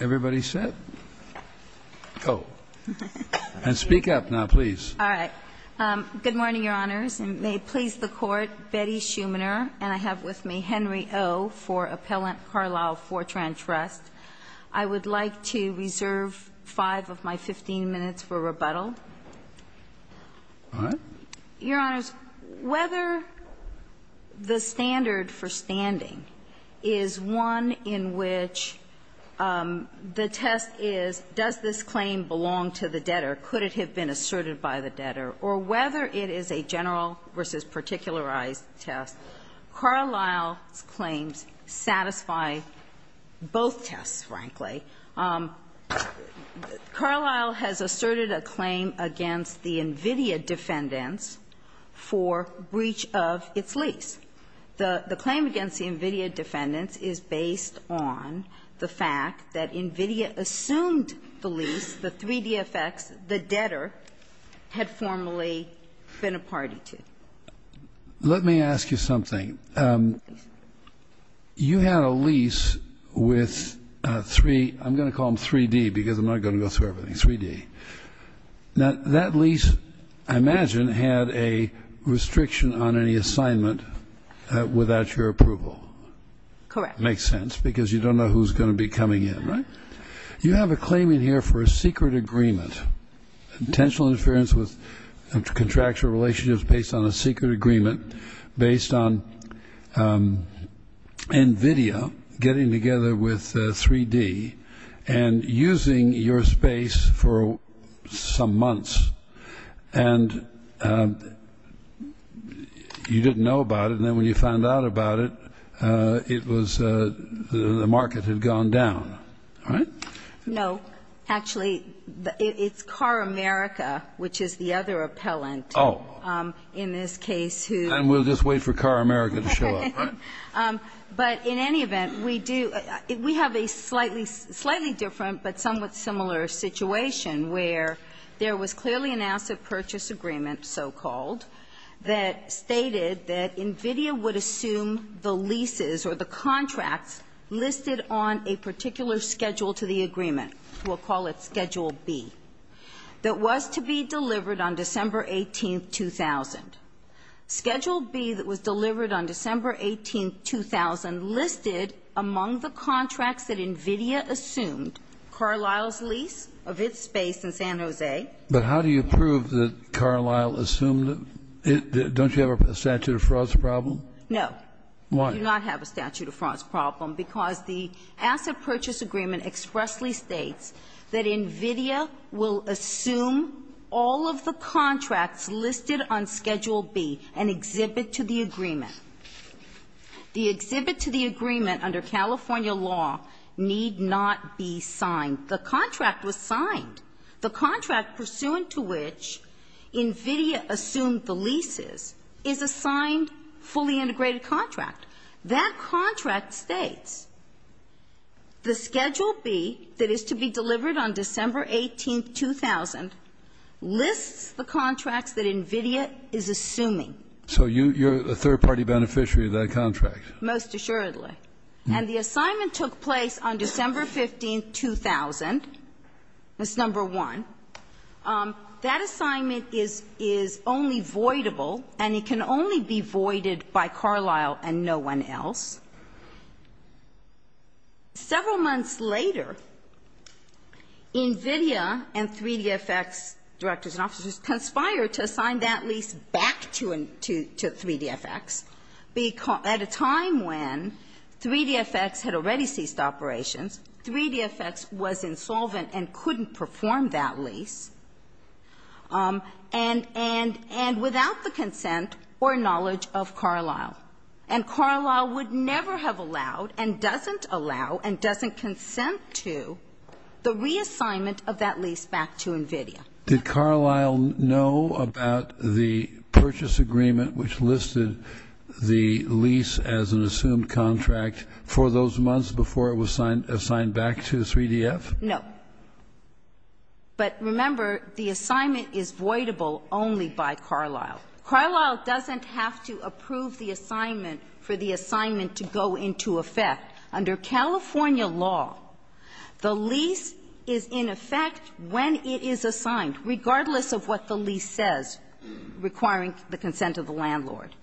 Everybody sit. Go. And speak up now, please. All right. Good morning, Your Honors, and may it please the Court, Betty Schumanner, and I have with me Henry O. for Appellant Carlisle-Fortran Trust. I would like to reserve five of my 15 minutes for rebuttal. Your Honors, whether the standard for standing is one in which the test is, does this claim belong to the debtor, could it have been asserted by the debtor, or whether it is a general versus particularized test, Carlisle's claims satisfy both tests. Carlisle has asserted a claim against the nVidia defendants for breach of its lease. The claim against the nVidia defendants is based on the fact that nVidia assumed the lease, the 3DFX, the debtor had formerly been a party to. Let me ask you something. You had a lease with three, I'm going to call them 3D, because I'm not going to go through everything, 3D. That lease, I imagine, had a restriction on any assignment without your approval. Correct. Makes sense, because you don't know who's going to be coming in, right? You have a claim in here for a secret agreement. Intentional interference with contractual relationships based on a secret agreement based on nVidia getting together with 3D and using your space for some months. And you didn't know about it, and then when you found out about it, it was the market had gone down, right? No. Actually, it's CarAmerica, which is the other appellant in this case. And we'll just wait for CarAmerica to show up, right? But in any event, we have a slightly different but somewhat similar situation where there was clearly an asset purchase agreement, so-called, that stated that nVidia would assume the leases or the contracts listed on a particular schedule to the agreement. We'll call it Schedule B, that was to be delivered on December 18, 2000. Schedule B that was delivered on December 18, 2000 listed among the contracts that nVidia assumed Carlisle's lease of its space in San Jose. But how do you prove that Carlisle assumed it? Don't you have a statute of frauds problem? No. Why? We do not have a statute of frauds problem because the asset purchase agreement expressly states that nVidia will assume all of the contracts listed on Schedule B and exhibit to the agreement. The exhibit to the agreement under California law need not be signed. The contract was signed. The contract pursuant to which nVidia assumed the leases is a signed, fully integrated contract. That contract states the Schedule B that is to be delivered on December 18, 2000 lists the contracts that nVidia is assuming. So you're a third-party beneficiary of that contract? Most assuredly. And the assignment took place on December 15, 2000. That's number one. That assignment is only voidable, and it can only be voided by Carlisle and no one else. Several months later, nVidia and 3DFX directors and officers conspired to assign that lease back to 3DFX at a time when 3DFX was already ceased operations, 3DFX was insolvent and couldn't perform that lease, and without the consent or knowledge of Carlisle. And Carlisle would never have allowed and doesn't allow and doesn't consent to the reassignment of that lease back to nVidia. Did Carlisle know about the purchase agreement which listed the lease as an assumed contract for those months before it was assigned back to 3DF? No. But remember, the assignment is voidable only by Carlisle. Carlisle doesn't have to approve the assignment for the assignment to go into effect. Under California law, the lease is in effect when it is assigned, regardless of what the lease says, requiring the consent of the landlord.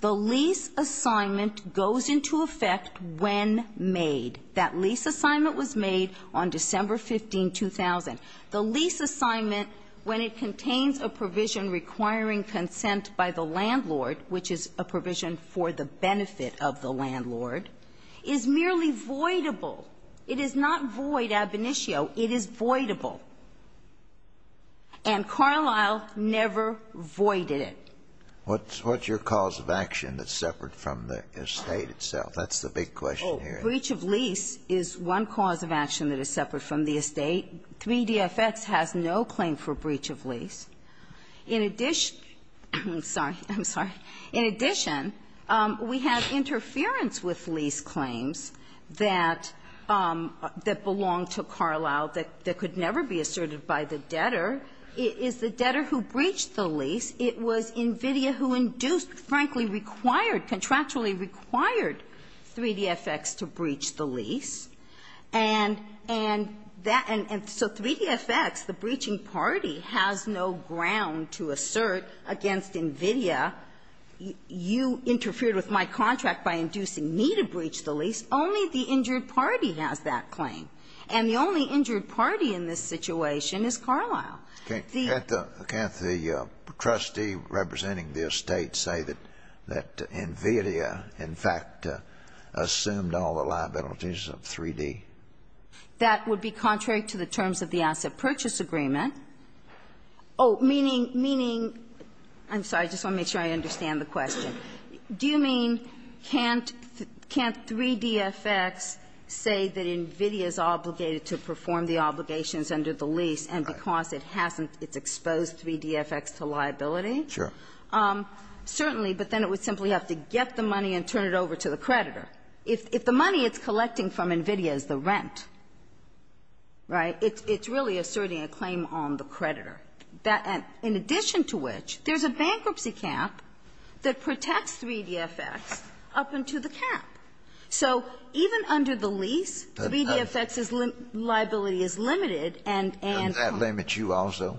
The lease assignment goes into effect when made. That lease assignment was made on December 15, 2000. The lease assignment, when it contains a provision requiring consent by the landlord, which is a provision for the benefit of the landlord, is merely voidable. It is not void ab initio. It is voidable. And Carlisle never voided it. What's your cause of action that's separate from the estate itself? That's the big question here. Oh, breach of lease is one cause of action that is separate from the estate. 3DFX has no claim for breach of lease. In addition, I'm sorry, I'm sorry. In addition, we have interference with lease claims that belong to Carlisle that could never be asserted by the debtor. It is the debtor who breached the lease. It was NVIDIA who induced, frankly required, contractually required 3DFX to breach the lease. And so 3DFX, the breaching party, has no ground to assert against NVIDIA, you interfered with my contract by inducing me to breach the lease. Only the injured party has that claim. And the only injured party in this situation is Carlisle. Can't the trustee representing the estate say that NVIDIA in fact assumed all the That would be contrary to the terms of the asset purchase agreement. Oh, meaning, meaning, I'm sorry, I just want to make sure I understand the question. Do you mean can't 3DFX say that NVIDIA is obligated to perform the obligations under the lease and because it hasn't, it's exposed 3DFX to liability? Sure. Certainly, but then it would simply have to get the money and turn it over to the creditor. If the money it's collecting from NVIDIA is the rent, right, it's really asserting a claim on the creditor. In addition to which, there's a bankruptcy cap that protects 3DFX up into the cap. So even under the lease, 3DFX's liability is limited and can't Does that limit you also?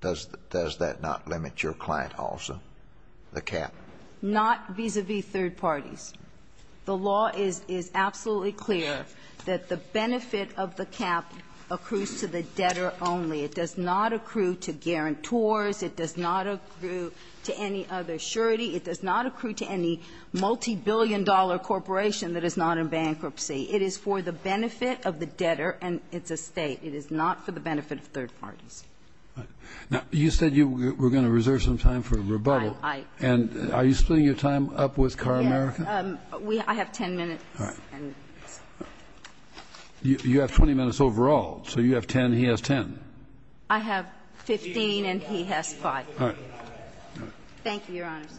Does that not limit your client also, the cap? Not vis-a-vis third parties. The law is absolutely clear that the benefit of the cap accrues to the debtor only. It does not accrue to guarantors. It does not accrue to any other surety. It does not accrue to any multibillion-dollar corporation that is not in bankruptcy. It is for the benefit of the debtor and its estate. It is not for the benefit of third parties. Now, you said you were going to reserve some time for rebuttal. And are you splitting your time up with CAR America? Yes. I have 10 minutes. All right. You have 20 minutes overall. So you have 10, he has 10. I have 15 and he has 5. All right. Thank you, Your Honors.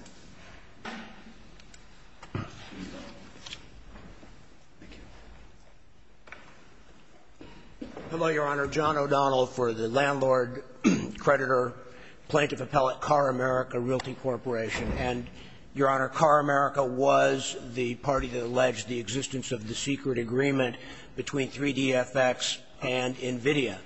Thank you. Hello, Your Honor. I'm John O'Donnell for the landlord, creditor, plaintiff appellate CAR America Realty Corporation. And, Your Honor, CAR America was the party that alleged the existence of the secret agreement between 3DFX and NVIDIA.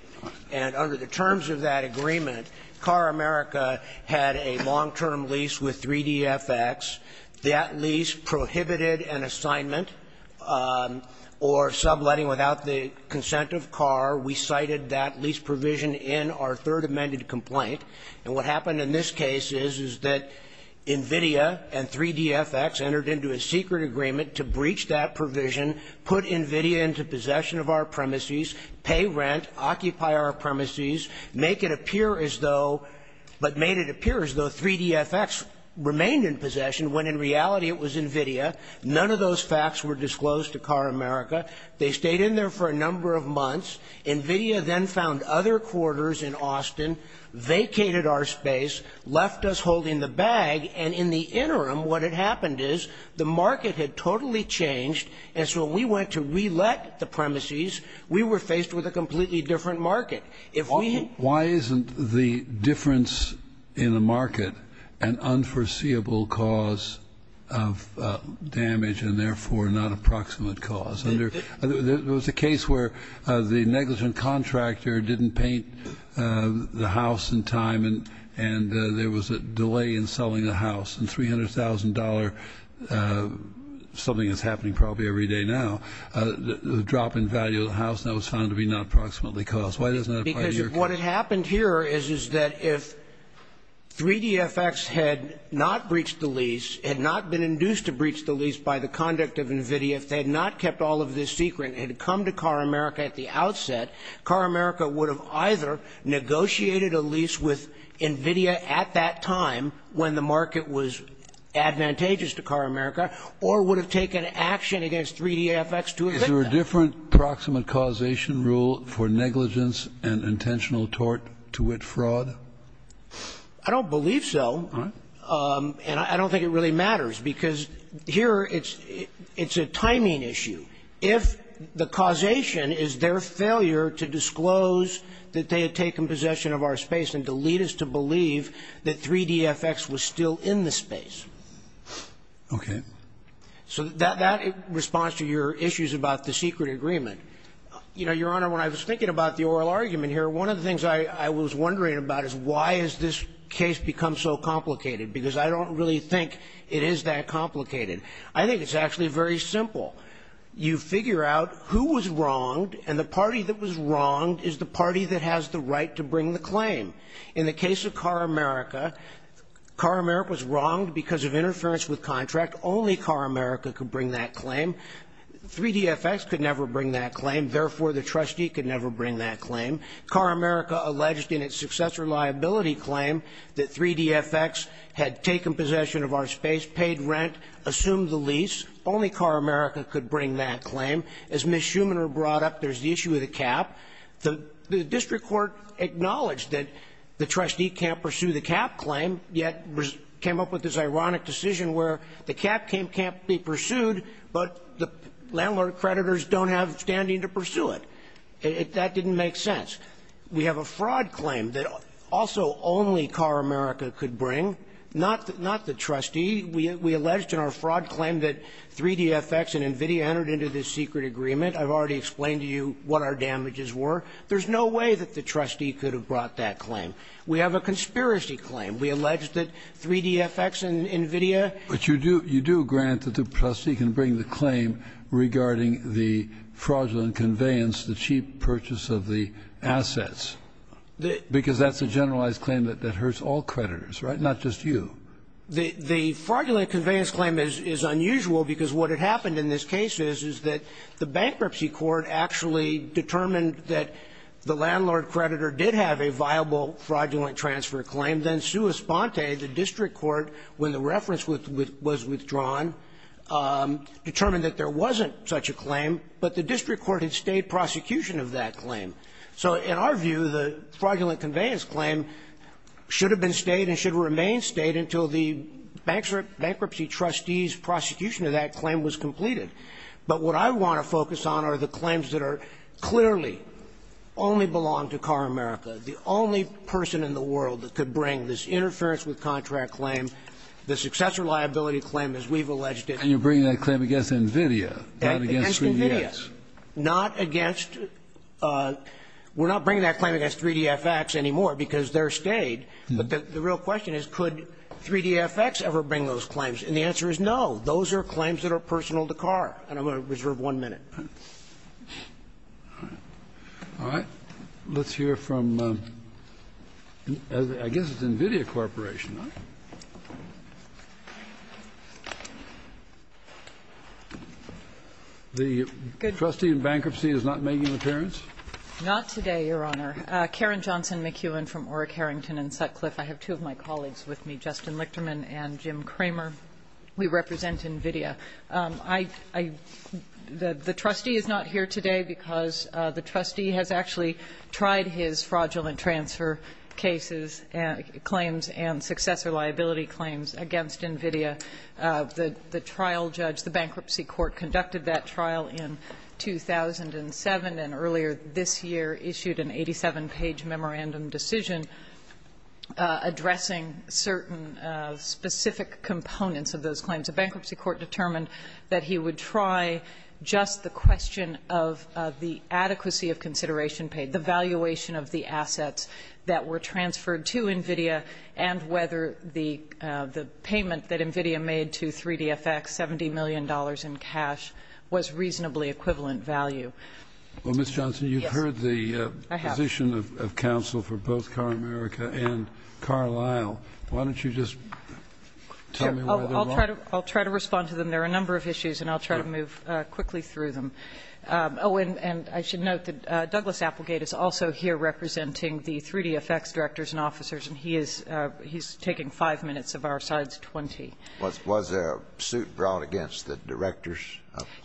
And under the terms of that agreement, CAR America had a long-term lease with 3DFX. That lease prohibited an assignment or subletting without the consent of CAR. We cited that lease provision in our third amended complaint. And what happened in this case is, is that NVIDIA and 3DFX entered into a secret agreement to breach that provision, put NVIDIA into possession of our premises, pay rent, occupy our premises, make it appear as though, but made it appear as though 3DFX remained in possession when, in reality, it was NVIDIA. None of those facts were disclosed to CAR America. They stayed in there for a number of months. NVIDIA then found other quarters in Austin, vacated our space, left us holding the bag. And in the interim, what had happened is the market had totally changed. And so when we went to re-let the premises, we were faced with a completely different market. Why isn't the difference in the market an unforeseeable cause of damage and, therefore, not a proximate cause? There was a case where the negligent contractor didn't paint the house in time, and there was a delay in selling the house, and $300,000, something that's happening probably every day now, the drop in value of the house, and that was found to be not proximately caused. Why doesn't that apply to your case? Because what had happened here is, is that if 3DFX had not breached the lease, had not been induced to breach the lease by the conduct of NVIDIA, if they had not kept all of this secret and had come to CAR America at the outset, CAR America would have either negotiated a lease with NVIDIA at that time when the market was advantageous to CAR America or would have taken action against 3DFX to evict them. Is there a different proximate causation rule for negligence and intentional tort to wit fraud? I don't believe so. All right. And I don't think it really matters, because here it's a timing issue. If the causation is their failure to disclose that they had taken possession of our space and to lead us to believe that 3DFX was still in the space. Okay. So that responds to your issues about the secret agreement. You know, Your Honor, when I was thinking about the oral argument here, one of the things I was wondering about is why has this case become so complicated? Because I don't really think it is that complicated. I think it's actually very simple. You figure out who was wronged, and the party that was wronged is the party that has the right to bring the claim. In the case of CAR America, CAR America was wronged because of interference with contract. Only CAR America could bring that claim. 3DFX could never bring that claim. Therefore, the trustee could never bring that claim. CAR America alleged in its successor liability claim that 3DFX had taken possession of our space, paid rent, assumed the lease. Only CAR America could bring that claim. As Ms. Schumanner brought up, there's the issue of the cap. The district court acknowledged that the trustee can't pursue the cap claim, yet came up with this ironic decision where the cap can't be pursued, but the landlord creditors don't have standing to pursue it. That didn't make sense. We have a fraud claim that also only CAR America could bring. Not the trustee. We alleged in our fraud claim that 3DFX and NVIDIA entered into this secret agreement. I've already explained to you what our damages were. There's no way that the trustee could have brought that claim. We have a conspiracy claim. We alleged that 3DFX and NVIDIA. But you do grant that the trustee can bring the claim regarding the fraudulent conveyance, the cheap purchase of the assets, because that's a generalized claim that hurts all creditors, right? Not just you. The fraudulent conveyance claim is unusual because what had happened in this case is, is that the bankruptcy court actually determined that the landlord creditor did have a viable fraudulent transfer claim. Then sua sponte, the district court, when the reference was withdrawn, determined that there wasn't such a claim. But the district court had stayed prosecution of that claim. So in our view, the fraudulent conveyance claim should have been stayed and should remain stayed until the bankruptcy trustee's prosecution of that claim was completed. But what I want to focus on are the claims that are clearly only belong to CAR America, the only person in the world that could bring this interference with contract claim, the successor liability claim as we've alleged it. And you're bringing that claim against NVIDIA, not against 3DX. Against NVIDIA. Not against, we're not bringing that claim against 3DFX anymore because they're stayed. But the real question is, could 3DFX ever bring those claims? And the answer is no. Those are claims that are personal to CAR. And I'm going to reserve one minute. All right. Let's hear from, I guess it's NVIDIA Corporation. The trustee in bankruptcy is not making an appearance? Not today, Your Honor. Karen Johnson McEwen from Orrick, Harrington and Sutcliffe. I have two of my colleagues with me, Justin Lichterman and Jim Kramer. We represent NVIDIA. The trustee is not here today because the trustee has actually tried his fraudulent transfer cases and claims and successor liability claims against NVIDIA. The trial judge, the bankruptcy court, conducted that trial in 2007 and earlier this year issued an 87-page memorandum decision addressing certain specific components of those claims. The bankruptcy court determined that he would try just the question of the adequacy of consideration paid, the valuation of the assets that were transferred to NVIDIA and whether the payment that NVIDIA made to 3DFX, $70 million in cash, was reasonably equivalent value. Well, Ms. Johnson, you've heard the position of counsel for both CARAmerica and CARLisle. Why don't you just tell me why they're wrong? I'll try to respond to them. There are a number of issues, and I'll try to move quickly through them. Oh, and I should note that Douglas Applegate is also here representing the 3DFX directors and officers, and he is taking five minutes of our side's 20. Was there a suit brought against the directors?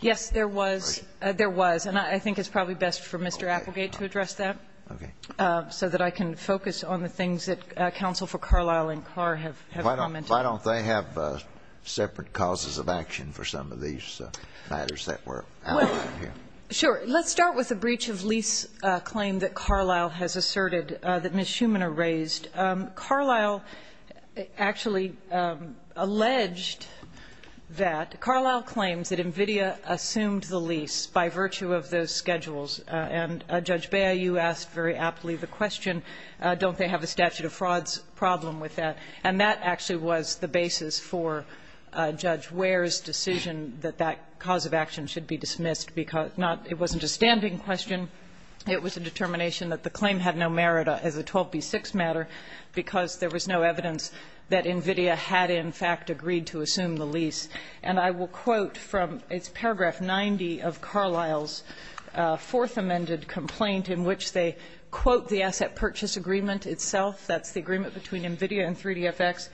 Yes, there was. There was. And I think it's probably best for Mr. Applegate to address that so that I can focus on the things that counsel for CARLisle and CAR have commented. Why don't they have separate causes of action for some of these matters that were raised? Well, sure. Let's start with the breach of lease claim that CARLisle has asserted that Ms. Schumann raised. CARLisle actually alleged that CARLisle claims that NVIDIA assumed the lease by virtue of those schedules. And, Judge Bea, you asked very aptly the question, don't they have a statute of frauds problem with that? And that actually was the basis for Judge Ware's decision that that cause of action should be dismissed. It wasn't a standing question. It was a determination that the claim had no merit as a 12B6 matter because there was no evidence that NVIDIA had, in fact, agreed to assume the lease. And I will quote from paragraph 90 of CARLisle's fourth amended complaint in which they quote the asset purchase agreement itself. That's the agreement between NVIDIA and 3DFX.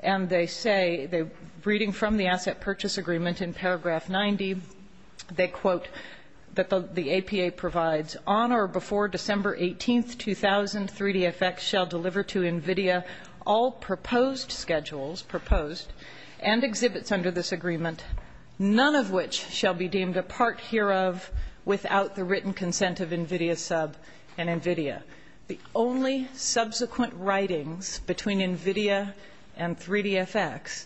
And they say, reading from the asset purchase agreement in paragraph 90, they quote that the APA provides, on or before December 18, 2000, 3DFX shall deliver to NVIDIA all proposed schedules, proposed, and exhibits under this agreement, none of which shall be deemed a part hereof without the written consent of NVIDIA sub and NVIDIA. The only subsequent writings between NVIDIA and 3DFX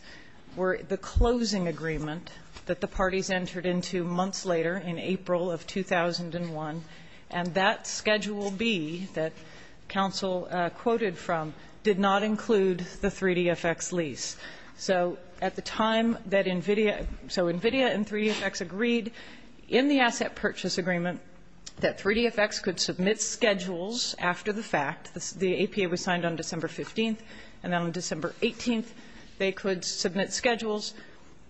were the closing agreement that the parties entered into months later in April of 2001, and that schedule B that counsel quoted from did not include the 3DFX lease. So at the time that NVIDIA, so NVIDIA and 3DFX agreed in the asset purchase agreement that 3DFX could submit schedules after the fact, the APA was signed on December 15th, and then on December 18th they could submit schedules.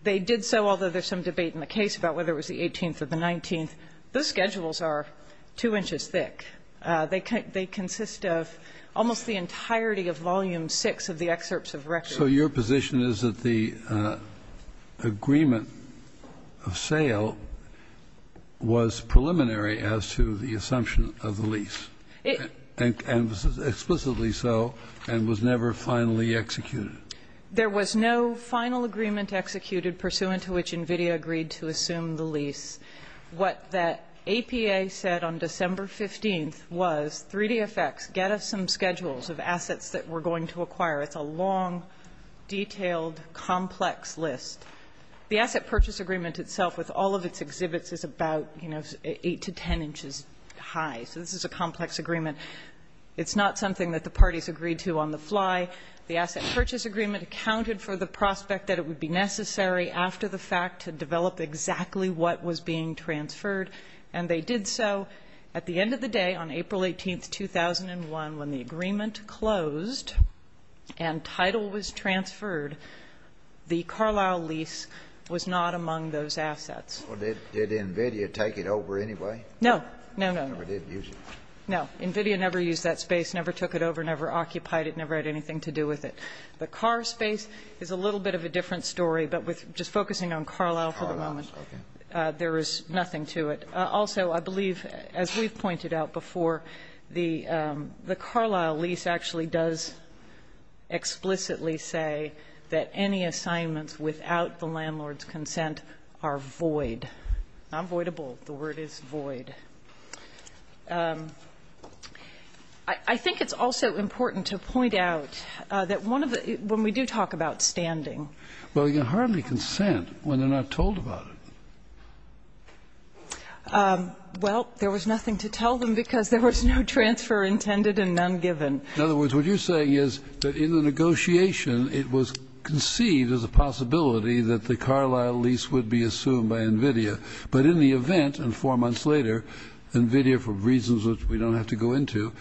They did so, although there's some debate in the case about whether it was the 18th or the 19th. Those schedules are 2 inches thick. They consist of almost the entirety of volume 6 of the excerpts of records. So your position is that the agreement of sale was preliminary as to the assumption of the lease, and explicitly so, and was never finally executed? There was no final agreement executed pursuant to which NVIDIA agreed to assume the lease. What that APA said on December 15th was 3DFX, get us some schedules of assets that we're going to acquire. It's a long, detailed, complex list. The asset purchase agreement itself, with all of its exhibits, is about, you know, 8 to 10 inches high. So this is a complex agreement. It's not something that the parties agreed to on the fly. The asset purchase agreement accounted for the prospect that it would be necessary after the fact to develop exactly what was being transferred, and they did so. At the end of the day, on April 18th, 2001, when the agreement closed and title was transferred, the Carlisle lease was not among those assets. Well, did NVIDIA take it over anyway? No. No, no, no. Never did use it? No. NVIDIA never used that space, never took it over, never occupied it, never had anything to do with it. The Carr space is a little bit of a different story, but with just focusing on Carlisle for the moment, there is nothing to it. Also, I believe, as we've pointed out before, the Carlisle lease actually does explicitly say that any assignments without the landlord's consent are void, not voidable. The word is void. I think it's also important to point out that one of the – when we do talk about standing – Well, you hardly consent when they're not told about it. Well, there was nothing to tell them because there was no transfer intended and none given. In other words, what you're saying is that in the negotiation it was conceived as a possibility that the Carlisle lease would be assumed by NVIDIA, but in the event, and four months later, NVIDIA, for reasons which we don't have to go into,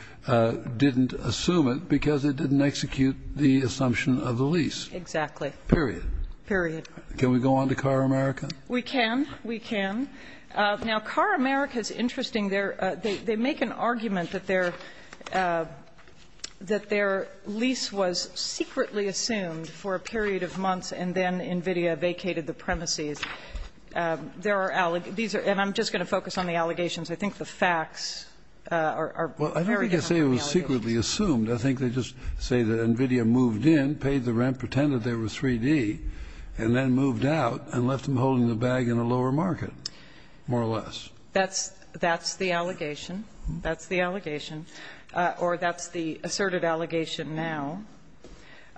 didn't assume it because it didn't execute the assumption of the lease. Exactly. Period. Period. Can we go on to Carr America? We can. We can. Now, Carr America is interesting. They make an argument that their lease was secretly assumed for a period of months and then NVIDIA vacated the premises. There are – and I'm just going to focus on the allegations. I think the facts are very different from the allegations. Well, I don't think they say it was secretly assumed. I think they just say that NVIDIA moved in, paid the rent, pretended they were 3D, and then moved out and left them holding the bag in a lower market, more or less. That's the allegation. That's the allegation. Or that's the asserted allegation now.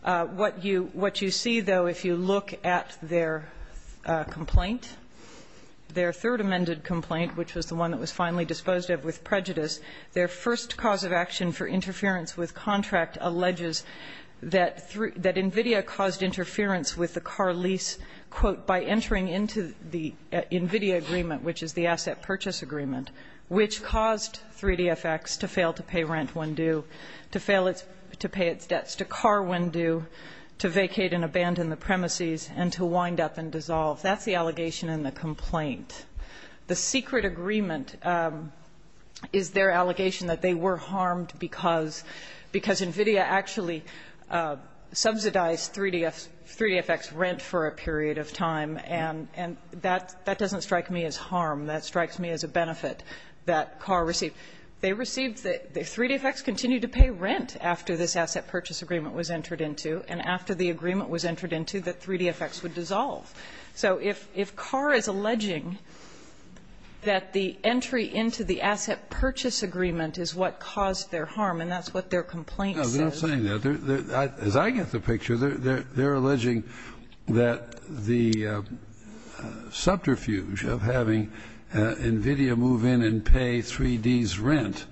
What you see, though, if you look at their complaint, their third amended complaint, which was the one that was finally disposed of with prejudice, their first cause of action for interference with contract alleges that NVIDIA caused interference with the Carr lease, quote, by entering into the NVIDIA agreement, which is the asset purchase agreement, which caused 3DFX to fail to pay rent when due, to fail to pay its debts to Carr when due, to vacate and abandon the premises, and to wind up and dissolve. That's the allegation in the complaint. The secret agreement is their allegation that they were harmed because NVIDIA actually subsidized 3DFX rent for a period of time, and that doesn't strike me as harm. That strikes me as a benefit that Carr received. They received the 3DFX continued to pay rent after this asset purchase agreement was entered into, and after the agreement was entered into, that 3DFX would dissolve. So if Carr is alleging that the entry into the asset purchase agreement is what caused their harm, and that's what their complaint says. No, they're not saying that. As I get the picture, they're alleging that the subterfuge of having NVIDIA move in and pay 3D's rent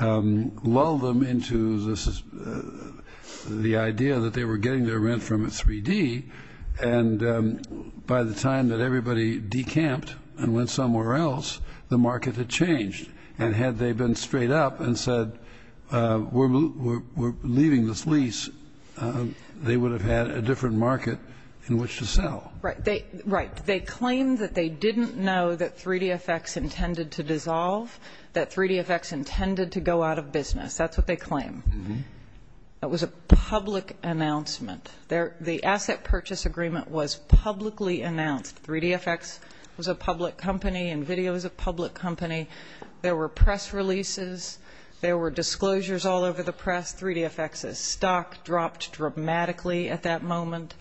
lulled them into the idea that they were getting their rent from 3D, and by the time that everybody decamped and went somewhere else, the market had changed. And had they been straight up and said, we're leaving this lease, they would have had a different market in which to sell. Right. They claimed that they didn't know that 3DFX intended to dissolve, that 3DFX intended to go out of business. That's what they claim. That was a public announcement. The asset purchase agreement was publicly announced. 3DFX was a public company. NVIDIA was a public company. There were press releases. There were disclosures all over the press. 3DFX's stock dropped dramatically at that moment.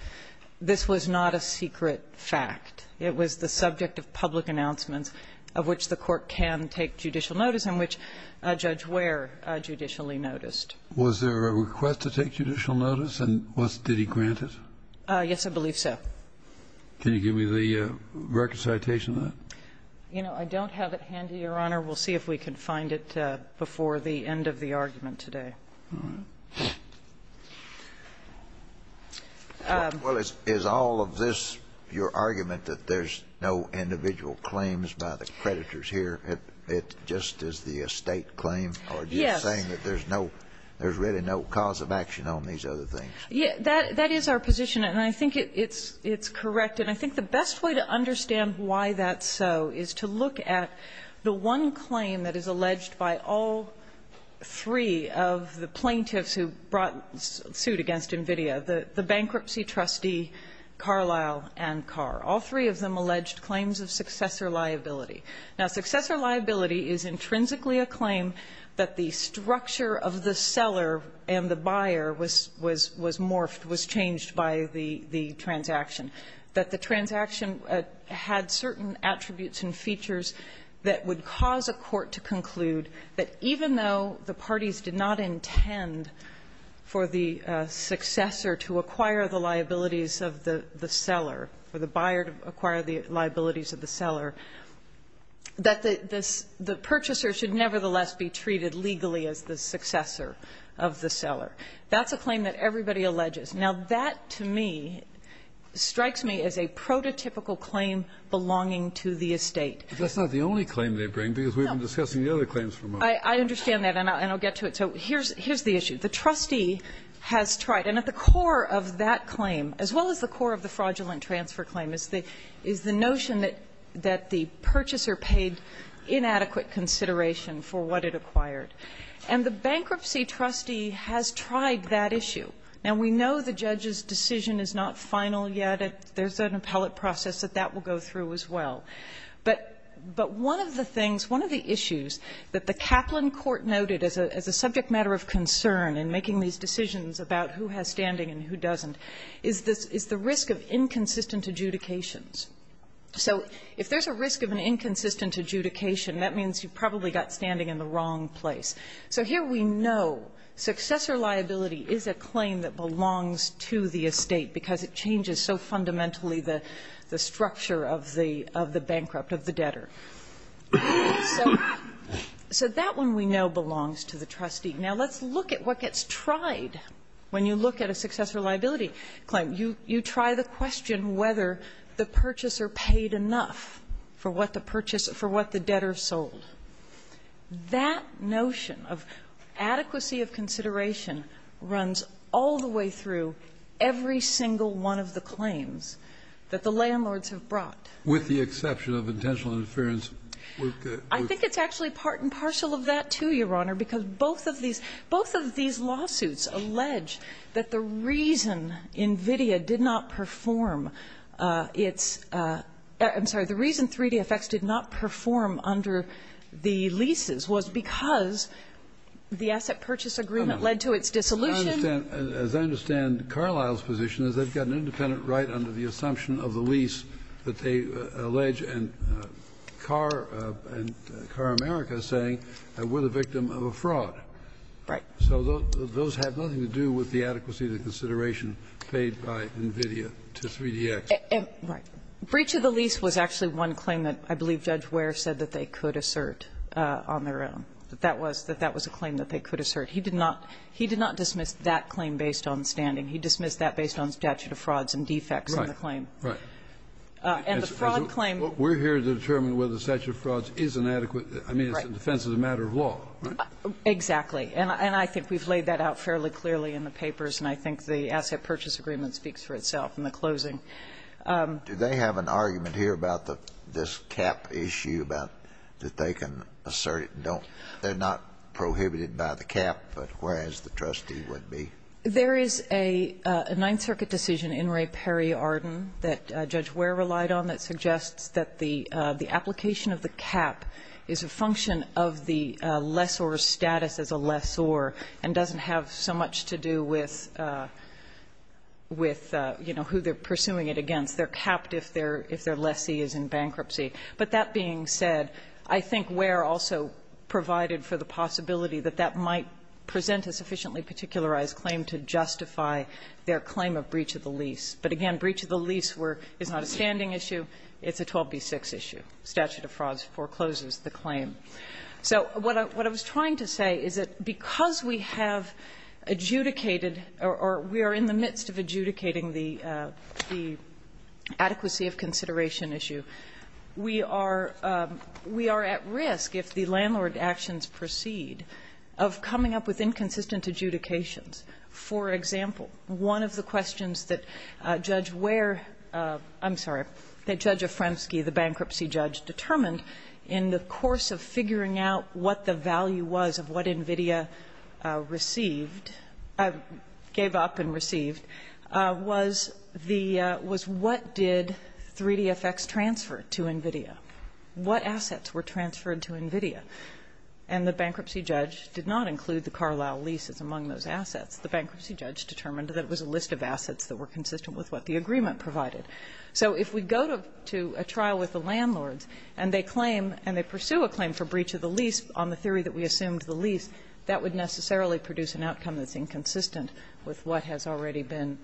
This was not a secret fact. It was the subject of public announcements of which the court can take judicial notice and which Judge Ware judicially noticed. Was there a request to take judicial notice? And did he grant it? Yes, I believe so. Can you give me the record citation of that? You know, I don't have it handy, Your Honor. We'll see if we can find it before the end of the argument today. All right. Well, is all of this your argument that there's no individual claims by the creditors here? It just is the estate claim? Yes. Or are you saying that there's really no cause of action on these other things? That is our position, and I think it's correct. And I think the best way to understand why that's so is to look at the one claim that is alleged by all three of the plaintiffs who brought suit against NVIDIA, the bankruptcy trustee, Carlisle, and Carr. All three of them alleged claims of successor liability. Now, successor liability is intrinsically a claim that the structure of the seller and the buyer was morphed, was changed by the transaction, that the transaction had certain attributes and features that would cause a court to conclude that even though the parties did not intend for the successor to acquire the liabilities of the seller, for the buyer to acquire the liabilities of the seller, that the purchaser should nevertheless be treated legally as the successor of the seller. That's a claim that everybody alleges. Now, that to me strikes me as a prototypical claim belonging to the estate. But that's not the only claim they bring, because we've been discussing the other claims for a moment. I understand that, and I'll get to it. So here's the issue. The trustee has tried. And at the core of that claim, as well as the core of the fraudulent transfer claim, is the notion that the purchaser paid inadequate consideration for what it acquired. And the bankruptcy trustee has tried that issue. Now, we know the judge's decision is not final yet. There's an appellate process that that will go through as well. But one of the things, one of the issues that the Kaplan Court noted as a subject matter of concern in making these decisions about who has standing and who doesn't is the risk of inconsistent adjudications. So if there's a risk of an inconsistent adjudication, that means you've probably got standing in the wrong place. So here we know successor liability is a claim that belongs to the estate because it changes so fundamentally the structure of the bankrupt, of the debtor. So that one we know belongs to the trustee. Now, let's look at what gets tried when you look at a successor liability claim. You try the question whether the purchaser paid enough for what the debtor sold. That notion of adequacy of consideration runs all the way through every single one of the claims that the landlords have brought. With the exception of intentional interference. I think it's actually part and parcel of that, too, Your Honor, because both of these lawsuits allege that the reason NVIDIA did not perform its ‑‑ I'm sorry, the reason 3DFX did not perform under the leases was because the asset purchase agreement led to its dissolution. Kennedy. As I understand Carlisle's position is they've got an independent right under the assumption of the lease that they allege, and Car America is saying, we're the victim of a fraud. Right. So those have nothing to do with the adequacy of the consideration paid by NVIDIA to 3DX. Right. Breach of the lease was actually one claim that I believe Judge Ware said that they could assert on their own, that that was a claim that they could assert. He did not dismiss that claim based on standing. He dismissed that based on statute of frauds and defects in the claim. Right. Right. And the fraud claim ‑‑ We're here to determine whether the statute of frauds is inadequate. Right. I mean, it's in defense of the matter of law, right? Exactly. And I think we've laid that out fairly clearly in the papers, and I think the asset purchase agreement speaks for itself in the closing. Do they have an argument here about this cap issue, about that they can assert it and don't ‑‑ they're not prohibited by the cap, but whereas the trustee would be? There is a Ninth Circuit decision in Ray Perry Arden that Judge Ware relied on that suggests that the application of the cap is a function of the lessor's status as a lessor and doesn't have so much to do with, you know, who they're pursuing it against. They're capped if their lessee is in bankruptcy. But that being said, I think Ware also provided for the possibility that that might present a sufficiently particularized claim to justify their claim of breach of the lease. But, again, breach of the lease is not a standing issue. It's a 12B6 issue. Statute of frauds forecloses the claim. So what I was trying to say is that because we have adjudicated or we are in the midst of adjudicating the adequacy of consideration issue, we are at risk, if the landlord actions proceed, of coming up with inconsistent adjudications. For example, one of the questions that Judge Ware ‑‑ I'm sorry, that Judge DeFremsky, the bankruptcy judge, determined in the course of figuring out what the value was of what NVIDIA received, gave up and received, was the ‑‑ was what did 3DFX transfer to NVIDIA? What assets were transferred to NVIDIA? And the bankruptcy judge did not include the Carlisle leases among those assets. The bankruptcy judge determined that it was a list of assets that were consistent with what the agreement provided. So if we go to a trial with the landlords and they claim, and they pursue a claim for breach of the lease on the theory that we assumed the lease, that would necessarily produce an outcome that's inconsistent with what has already been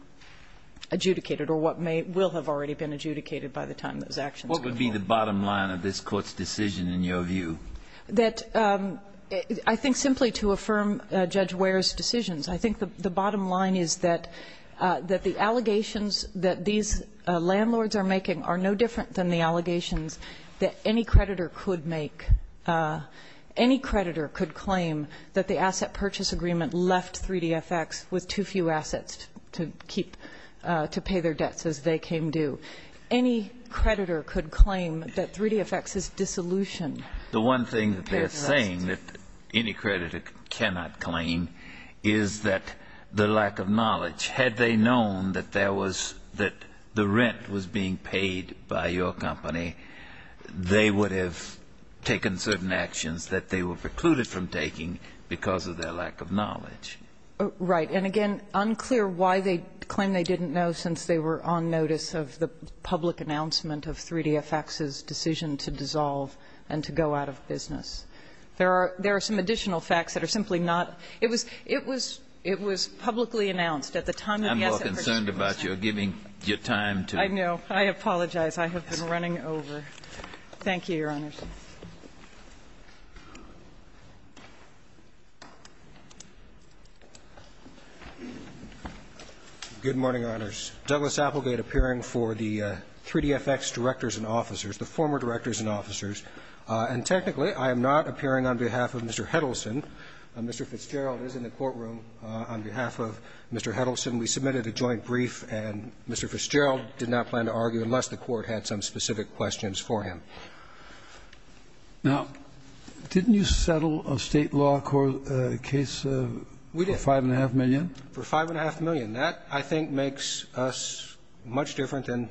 adjudicated or what may ‑‑ will have already been adjudicated by the time those actions were called. What would be the bottom line of this Court's decision in your view? That, I think, simply to affirm Judge Ware's decisions, I think the bottom line is that the allegations that these landlords are making are no different than the allegations that any creditor could make. Any creditor could claim that the asset purchase agreement left 3DFX with too few assets to keep ‑‑ to pay their debts as they came due. Any creditor could claim that 3DFX's dissolution ‑‑ The one thing that they're saying that any creditor cannot claim is that the lack of knowledge, had they known that there was ‑‑ that the rent was being paid by your company, they would have taken certain actions that they were precluded from taking because of their lack of knowledge. Right. And again, unclear why they claim they didn't know since they were on notice of the public announcement of 3DFX's decision to dissolve and to go out of business. There are ‑‑ there are some additional facts that are simply not ‑‑ it was publicly announced at the time of the asset purchase agreement. I'm more concerned about your giving your time to ‑‑ I know. I apologize. I have been running over. Thank you, Your Honors. Good morning, Your Honors. Douglas Applegate appearing for the 3DFX directors and officers, the former directors and officers. And technically, I am not appearing on behalf of Mr. Heddleson. Mr. Fitzgerald is in the courtroom on behalf of Mr. Heddleson. We submitted a joint brief, and Mr. Fitzgerald did not plan to argue unless the court had some specific questions for him. Now, didn't you settle a State law case for 5.5 million? We did, for 5.5 million. That, I think, makes us much different than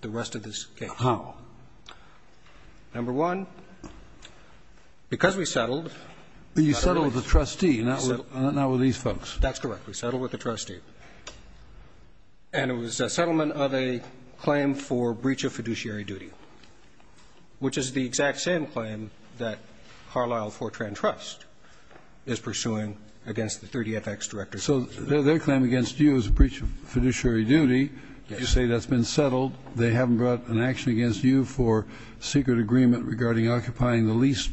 the rest of this case. How? Number one, because we settled ‑‑ You settled with the trustee, not with these folks. That's correct. We settled with the trustee. And it was a settlement of a claim for breach of fiduciary duty, which is the exact same claim that Carlisle Fortran Trust is pursuing against the 3DFX directors and officers. So their claim against you is a breach of fiduciary duty. Yes. You say that's been settled. They haven't brought an action against you for secret agreement regarding occupying the lease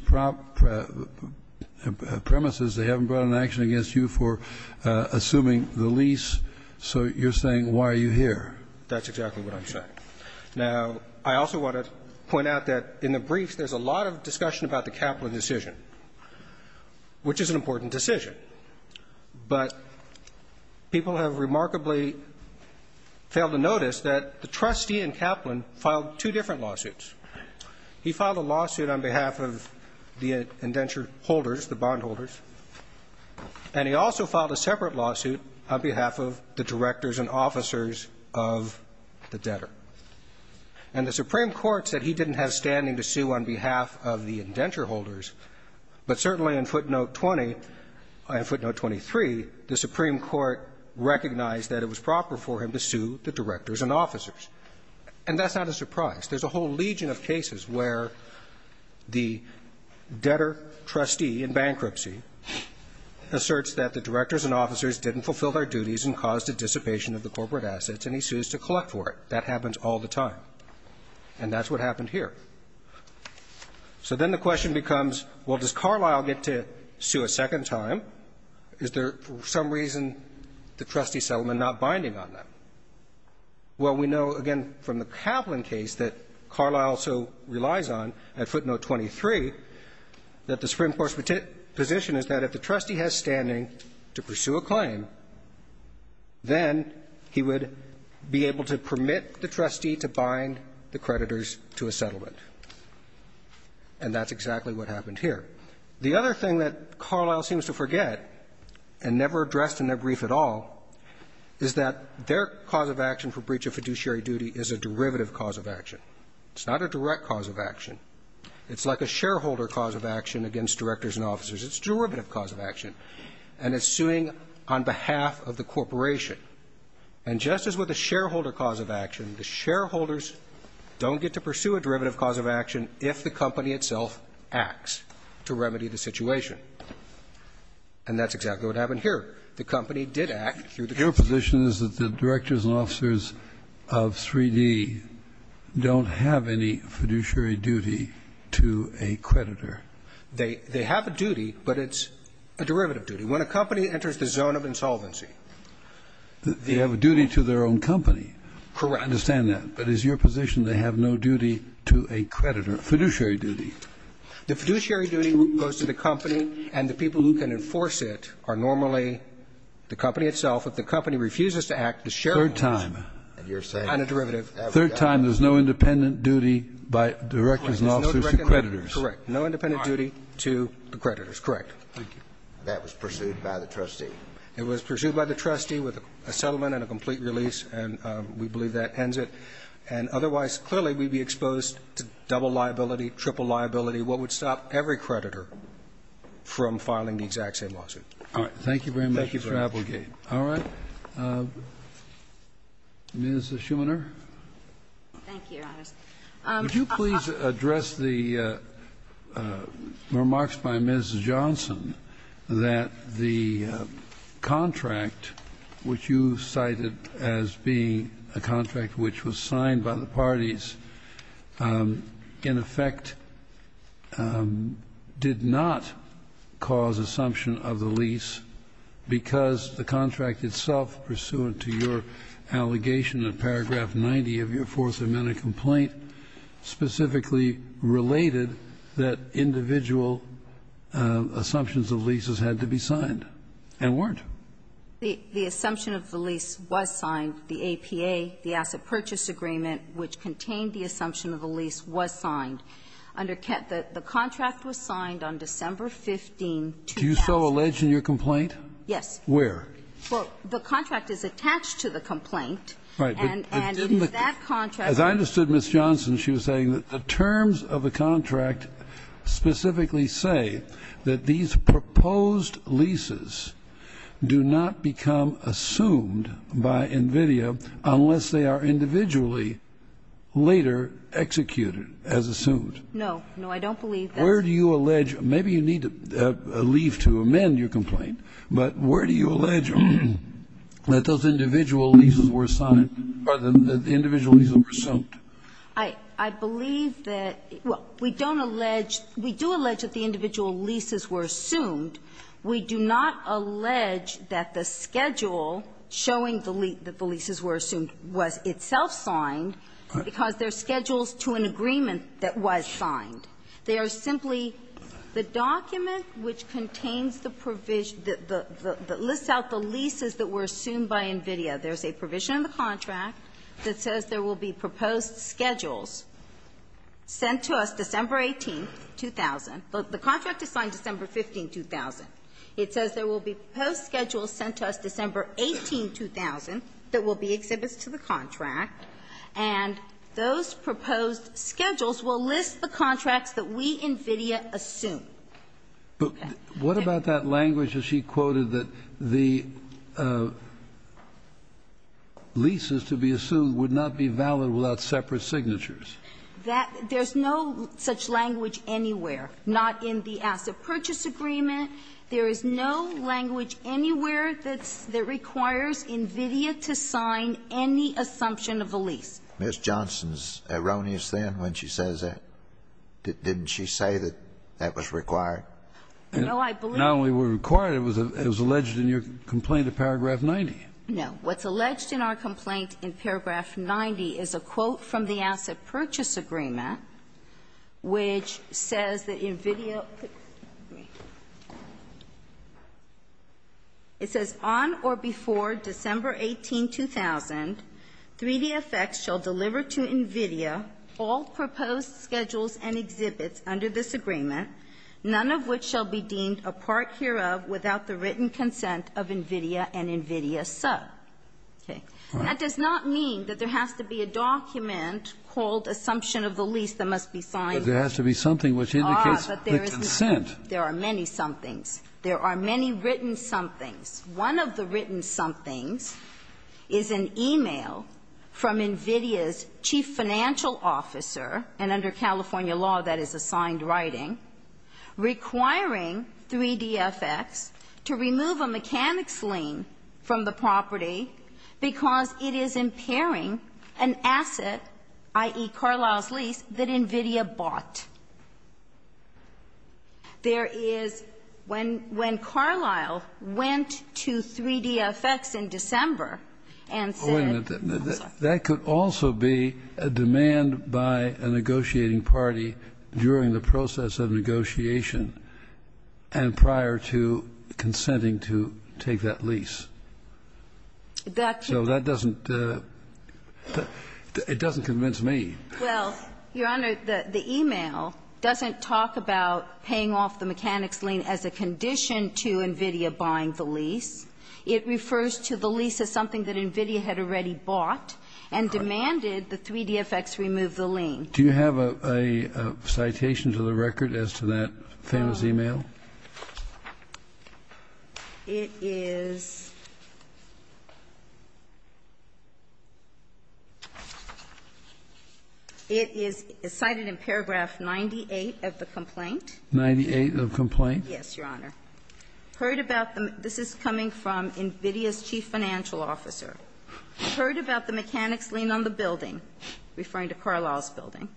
premises. They haven't brought an action against you for assuming the lease. So you're saying, why are you here? That's exactly what I'm saying. Now, I also want to point out that in the brief, there's a lot of discussion about the Kaplan decision, which is an important decision. But people have remarkably failed to notice that the trustee in Kaplan filed two different lawsuits. He filed a lawsuit on behalf of the indenture holders, the bondholders, and he also filed a separate lawsuit on behalf of the directors and officers of the debtor. And the Supreme Court said he didn't have standing to sue on behalf of the indenture holders. But certainly in footnote 20 and footnote 23, the Supreme Court recognized that it was proper for him to sue the directors and officers. And that's not a surprise. There's a whole legion of cases where the debtor trustee in bankruptcy asserts that the directors and officers didn't fulfill their duties and caused a dissipation of the corporate assets, and he sues to collect for it. That happens all the time. And that's what happened here. So then the question becomes, well, does Carlyle get to sue a second time? Is there for some reason the trustee settlement not binding on that? Well, we know, again, from the Kaplan case that Carlyle so relies on at footnote 23 that the Supreme Court's position is that if the trustee has standing to pursue a claim, then he would be able to permit the trustee to bind the creditors to a settlement. And that's exactly what happened here. The other thing that Carlyle seems to forget, and never addressed in their brief at all, is that their cause of action for breach of fiduciary duty is a derivative cause of action. It's not a direct cause of action. It's like a shareholder cause of action against directors and officers. It's a derivative cause of action. And it's suing on behalf of the corporation. And just as with a shareholder cause of action, the shareholders don't get to pursue a derivative cause of action if the company itself acts to remedy the situation. And that's exactly what happened here. The company did act through the case. Your position is that the directors and officers of 3D don't have any fiduciary duty to a creditor. They have a duty, but it's a derivative duty. When a company enters the zone of insolvency, they have a duty to their own company. Correct. I understand that. But is your position they have no duty to a creditor, fiduciary duty? The fiduciary duty goes to the company, and the people who can enforce it are normally the company itself. If the company refuses to act, the shareholders. Third time. And a derivative. Third time there's no independent duty by directors and officers to creditors. Correct. No independent duty to the creditors. Correct. Thank you. That was pursued by the trustee. It was pursued by the trustee with a settlement and a complete release, and we believe that ends it. And otherwise, clearly, we'd be exposed to double liability, triple liability, what would stop every creditor from filing the exact same lawsuit. All right. Thank you very much for that. Thank you very much. All right. Ms. Schumanner. Thank you, Your Honors. Would you please address the remarks by Ms. Johnson that the contract which you cited as being a contract which was signed by the parties, in effect, did not cause assumption of the lease because the contract itself, pursuant to your allegation in paragraph 90 of your Fourth Amendment complaint, specifically related that individual assumptions of leases had to be signed and weren't? The assumption of the lease was signed. The APA, the Asset Purchase Agreement, which contained the assumption of the lease, was signed. The contract was signed on December 15, 2000. Do you so allege in your complaint? Yes. Where? Well, the contract is attached to the complaint. Right. As I understood Ms. Johnson, she was saying that the terms of the contract specifically say that these proposed leases do not become assumed by NVIDIA unless they are individually later executed as assumed. No. No, I don't believe that. Where do you allege? Maybe you need to leave to amend your complaint, but where do you allege that those individual leases were signed or the individual leases were assumed? I believe that we don't allege we do allege that the individual leases were assumed. We do not allege that the schedule showing the leases were assumed was itself signed because they are schedules to an agreement that was signed. They are simply the document which contains the provision that lists out the leases that were assumed by NVIDIA. There is a provision in the contract that says there will be proposed schedules sent to us December 18, 2000. The contract is signed December 15, 2000. It says there will be proposed schedules sent to us December 18, 2000 that will be exhibits to the contract, and those proposed schedules will list the contracts that we, NVIDIA, assume. But what about that language that she quoted that the leases to be assumed would not be valid without separate signatures? There's no such language anywhere. Not in the asset purchase agreement. There is no language anywhere that requires NVIDIA to sign any assumption of a lease. Miss Johnson's erroneous then when she says that. Didn't she say that that was required? No, I believe that. Not only was it required, it was alleged in your complaint in paragraph 90. No. What's alleged in our complaint in paragraph 90 is a quote from the asset purchase agreement which says that NVIDIA ---- it says, on or before December 18, 2000, 3DFX shall deliver to NVIDIA all proposed schedules and exhibits under this agreement, none of which shall be deemed a part hereof without the written consent of NVIDIA and NVIDIA sub. Okay. That does not mean that there has to be a document called assumption of the lease that must be signed. But there has to be something which indicates the consent. There are many somethings. There are many written somethings. One of the written somethings is an e-mail from NVIDIA's chief financial officer and under California law that is assigned writing requiring 3DFX to remove a mechanics lien from the property because it is impairing an asset, i.e., Carlisle's lease, that NVIDIA bought. There is ---- when Carlisle went to 3DFX in December and said ---- Wait a minute. That could also be a demand by a negotiating party during the process of negotiation and prior to consenting to take that lease. That ---- So that doesn't ---- it doesn't convince me. Well, Your Honor, the e-mail doesn't talk about paying off the mechanics lien as a condition to NVIDIA buying the lease. It refers to the lease as something that NVIDIA had already bought and demanded that 3DFX remove the lien. Do you have a citation to the record as to that famous e-mail? It is ---- it is cited in paragraph 98 of the complaint. Ninety-eight of complaint? Yes, Your Honor. Heard about the ---- this is coming from NVIDIA's chief financial officer. Heard about the mechanics lien on the building, referring to Carlisle's building.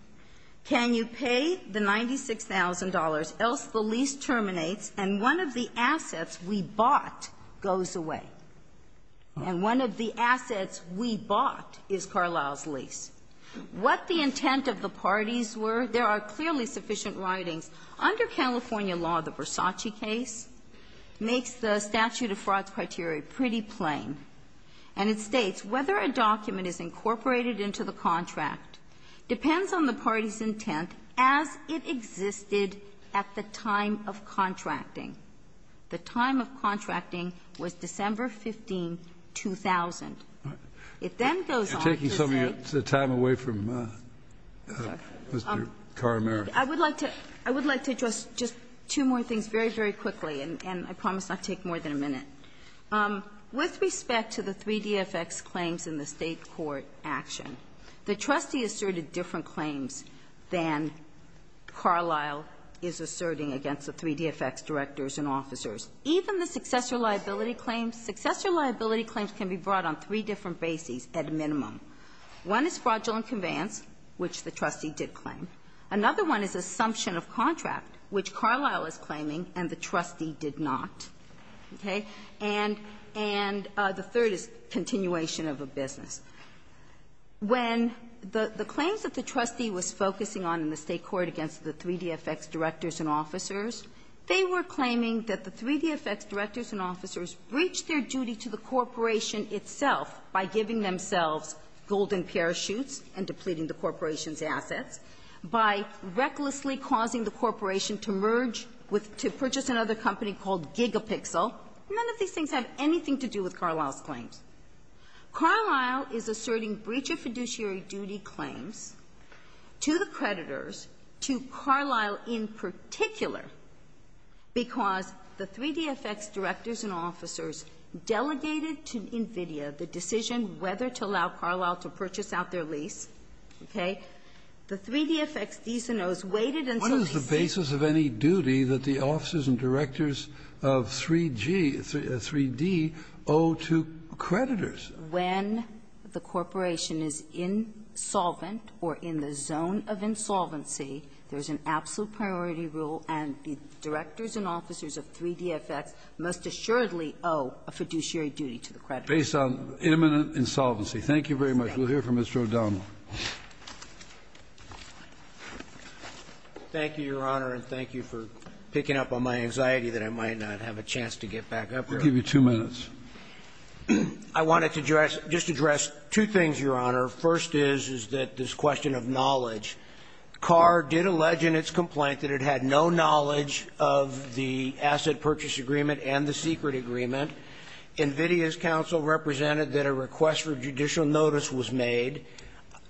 Can you pay the $96,000 else the lease terminates and one of the assets we bought goes away? And one of the assets we bought is Carlisle's lease. What the intent of the parties were, there are clearly sufficient writings. Under California law, the Versace case makes the statute of frauds criteria pretty plain, and it states, Whether a document is incorporated into the contract depends on the party's intent as it existed at the time of contracting. The time of contracting was December 15, 2000. It then goes on to say ---- You're taking some of your time away from Mr. Karameric. I would like to address just two more things very, very quickly, and I promise not to take more than a minute. With respect to the 3DFX claims in the State court action, the trustee asserted different claims than Carlisle is asserting against the 3DFX directors and officers. Even the successor liability claims, successor liability claims can be brought on three different bases at minimum. One is fraudulent conveyance, which the trustee did claim. Another one is assumption of contract, which Carlisle is claiming and the trustee did not. Okay? And the third is continuation of a business. When the claims that the trustee was focusing on in the State court against the 3DFX directors and officers, they were claiming that the 3DFX directors and officers breached their duty to the corporation itself by giving themselves golden parachutes and depleting the corporation's assets, by recklessly causing the corporation to merge with to purchase another company called Gigapixel. None of these things have anything to do with Carlisle's claims. Carlisle is asserting breach of fiduciary duty claims to the creditors, to Carlisle in particular, because the 3DFX directors and officers delegated to NVIDIA the decision whether to allow Carlisle to purchase out their lease. Okay? This is the basis of any duty that the officers and directors of 3G or 3D owe to creditors. When the corporation is insolvent or in the zone of insolvency, there's an absolute priority rule, and the directors and officers of 3DFX most assuredly owe a fiduciary duty to the creditors. Based on imminent insolvency. Thank you very much. We'll hear from Mr. O'Donnell. Thank you, Your Honor, and thank you for picking up on my anxiety that I might not have a chance to get back up here. I'll give you two minutes. I wanted to just address two things, Your Honor. First is, is that this question of knowledge. Carr did allege in its complaint that it had no knowledge of the asset purchase agreement and the secret agreement. NVIDIA's counsel represented that a request for judicial notice was made.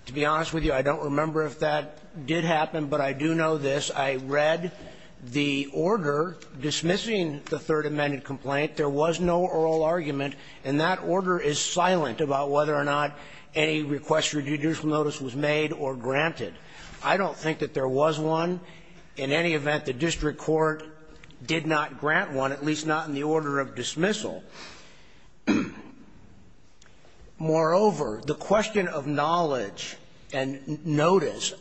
To be honest with you, I don't remember if that did happen, but I do know this. I read the order dismissing the Third Amendment complaint. There was no oral argument, and that order is silent about whether or not any request for judicial notice was made or granted. I don't think that there was one. In any event, the district court did not grant one, at least not in the order of dismissal. Moreover, the question of knowledge and notice.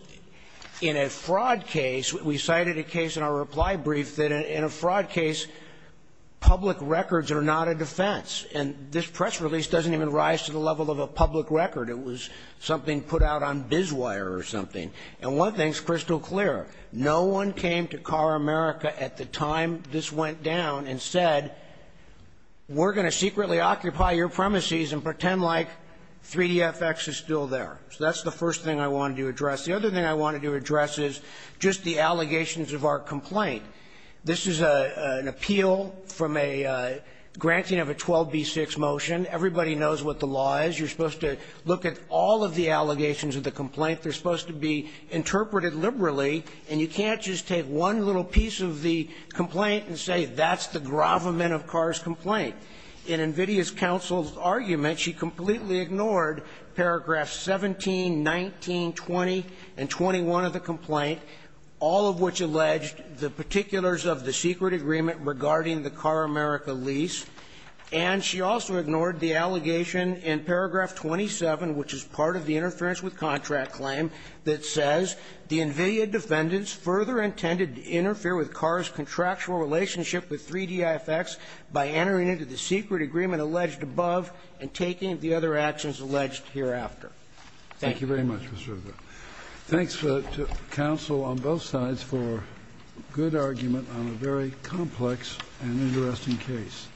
In a fraud case, we cited a case in our reply brief that in a fraud case, public records are not a defense, and this press release doesn't even rise to the level of a public record. It was something put out on bizwire or something. And one thing's crystal clear. No one came to CARAmerica at the time this went down and said, we're going to secretly occupy your premises and pretend like 3DFX is still there. So that's the first thing I wanted to address. The other thing I wanted to address is just the allegations of our complaint. This is an appeal from a granting of a 12B6 motion. Everybody knows what the law is. You're supposed to look at all of the allegations of the complaint. They're supposed to be interpreted liberally. And you can't just take one little piece of the complaint and say that's the gravamen of CARA's complaint. In NVIDIA's counsel's argument, she completely ignored paragraph 17, 19, 20, and 21 of the complaint, all of which alleged the particulars of the secret agreement regarding the CARAmerica lease. And she also ignored the allegation in paragraph 27, which is part of the interference with contract claim, that says the NVIDIA defendants further intended to interfere with CARA's contractual relationship with 3DFX by entering into the secret agreement alleged above and taking the other actions alleged hereafter. Thank you. Thank you very much, Mr. River. Thanks to counsel on both sides for good argument on a very complex and interesting case. Thank you.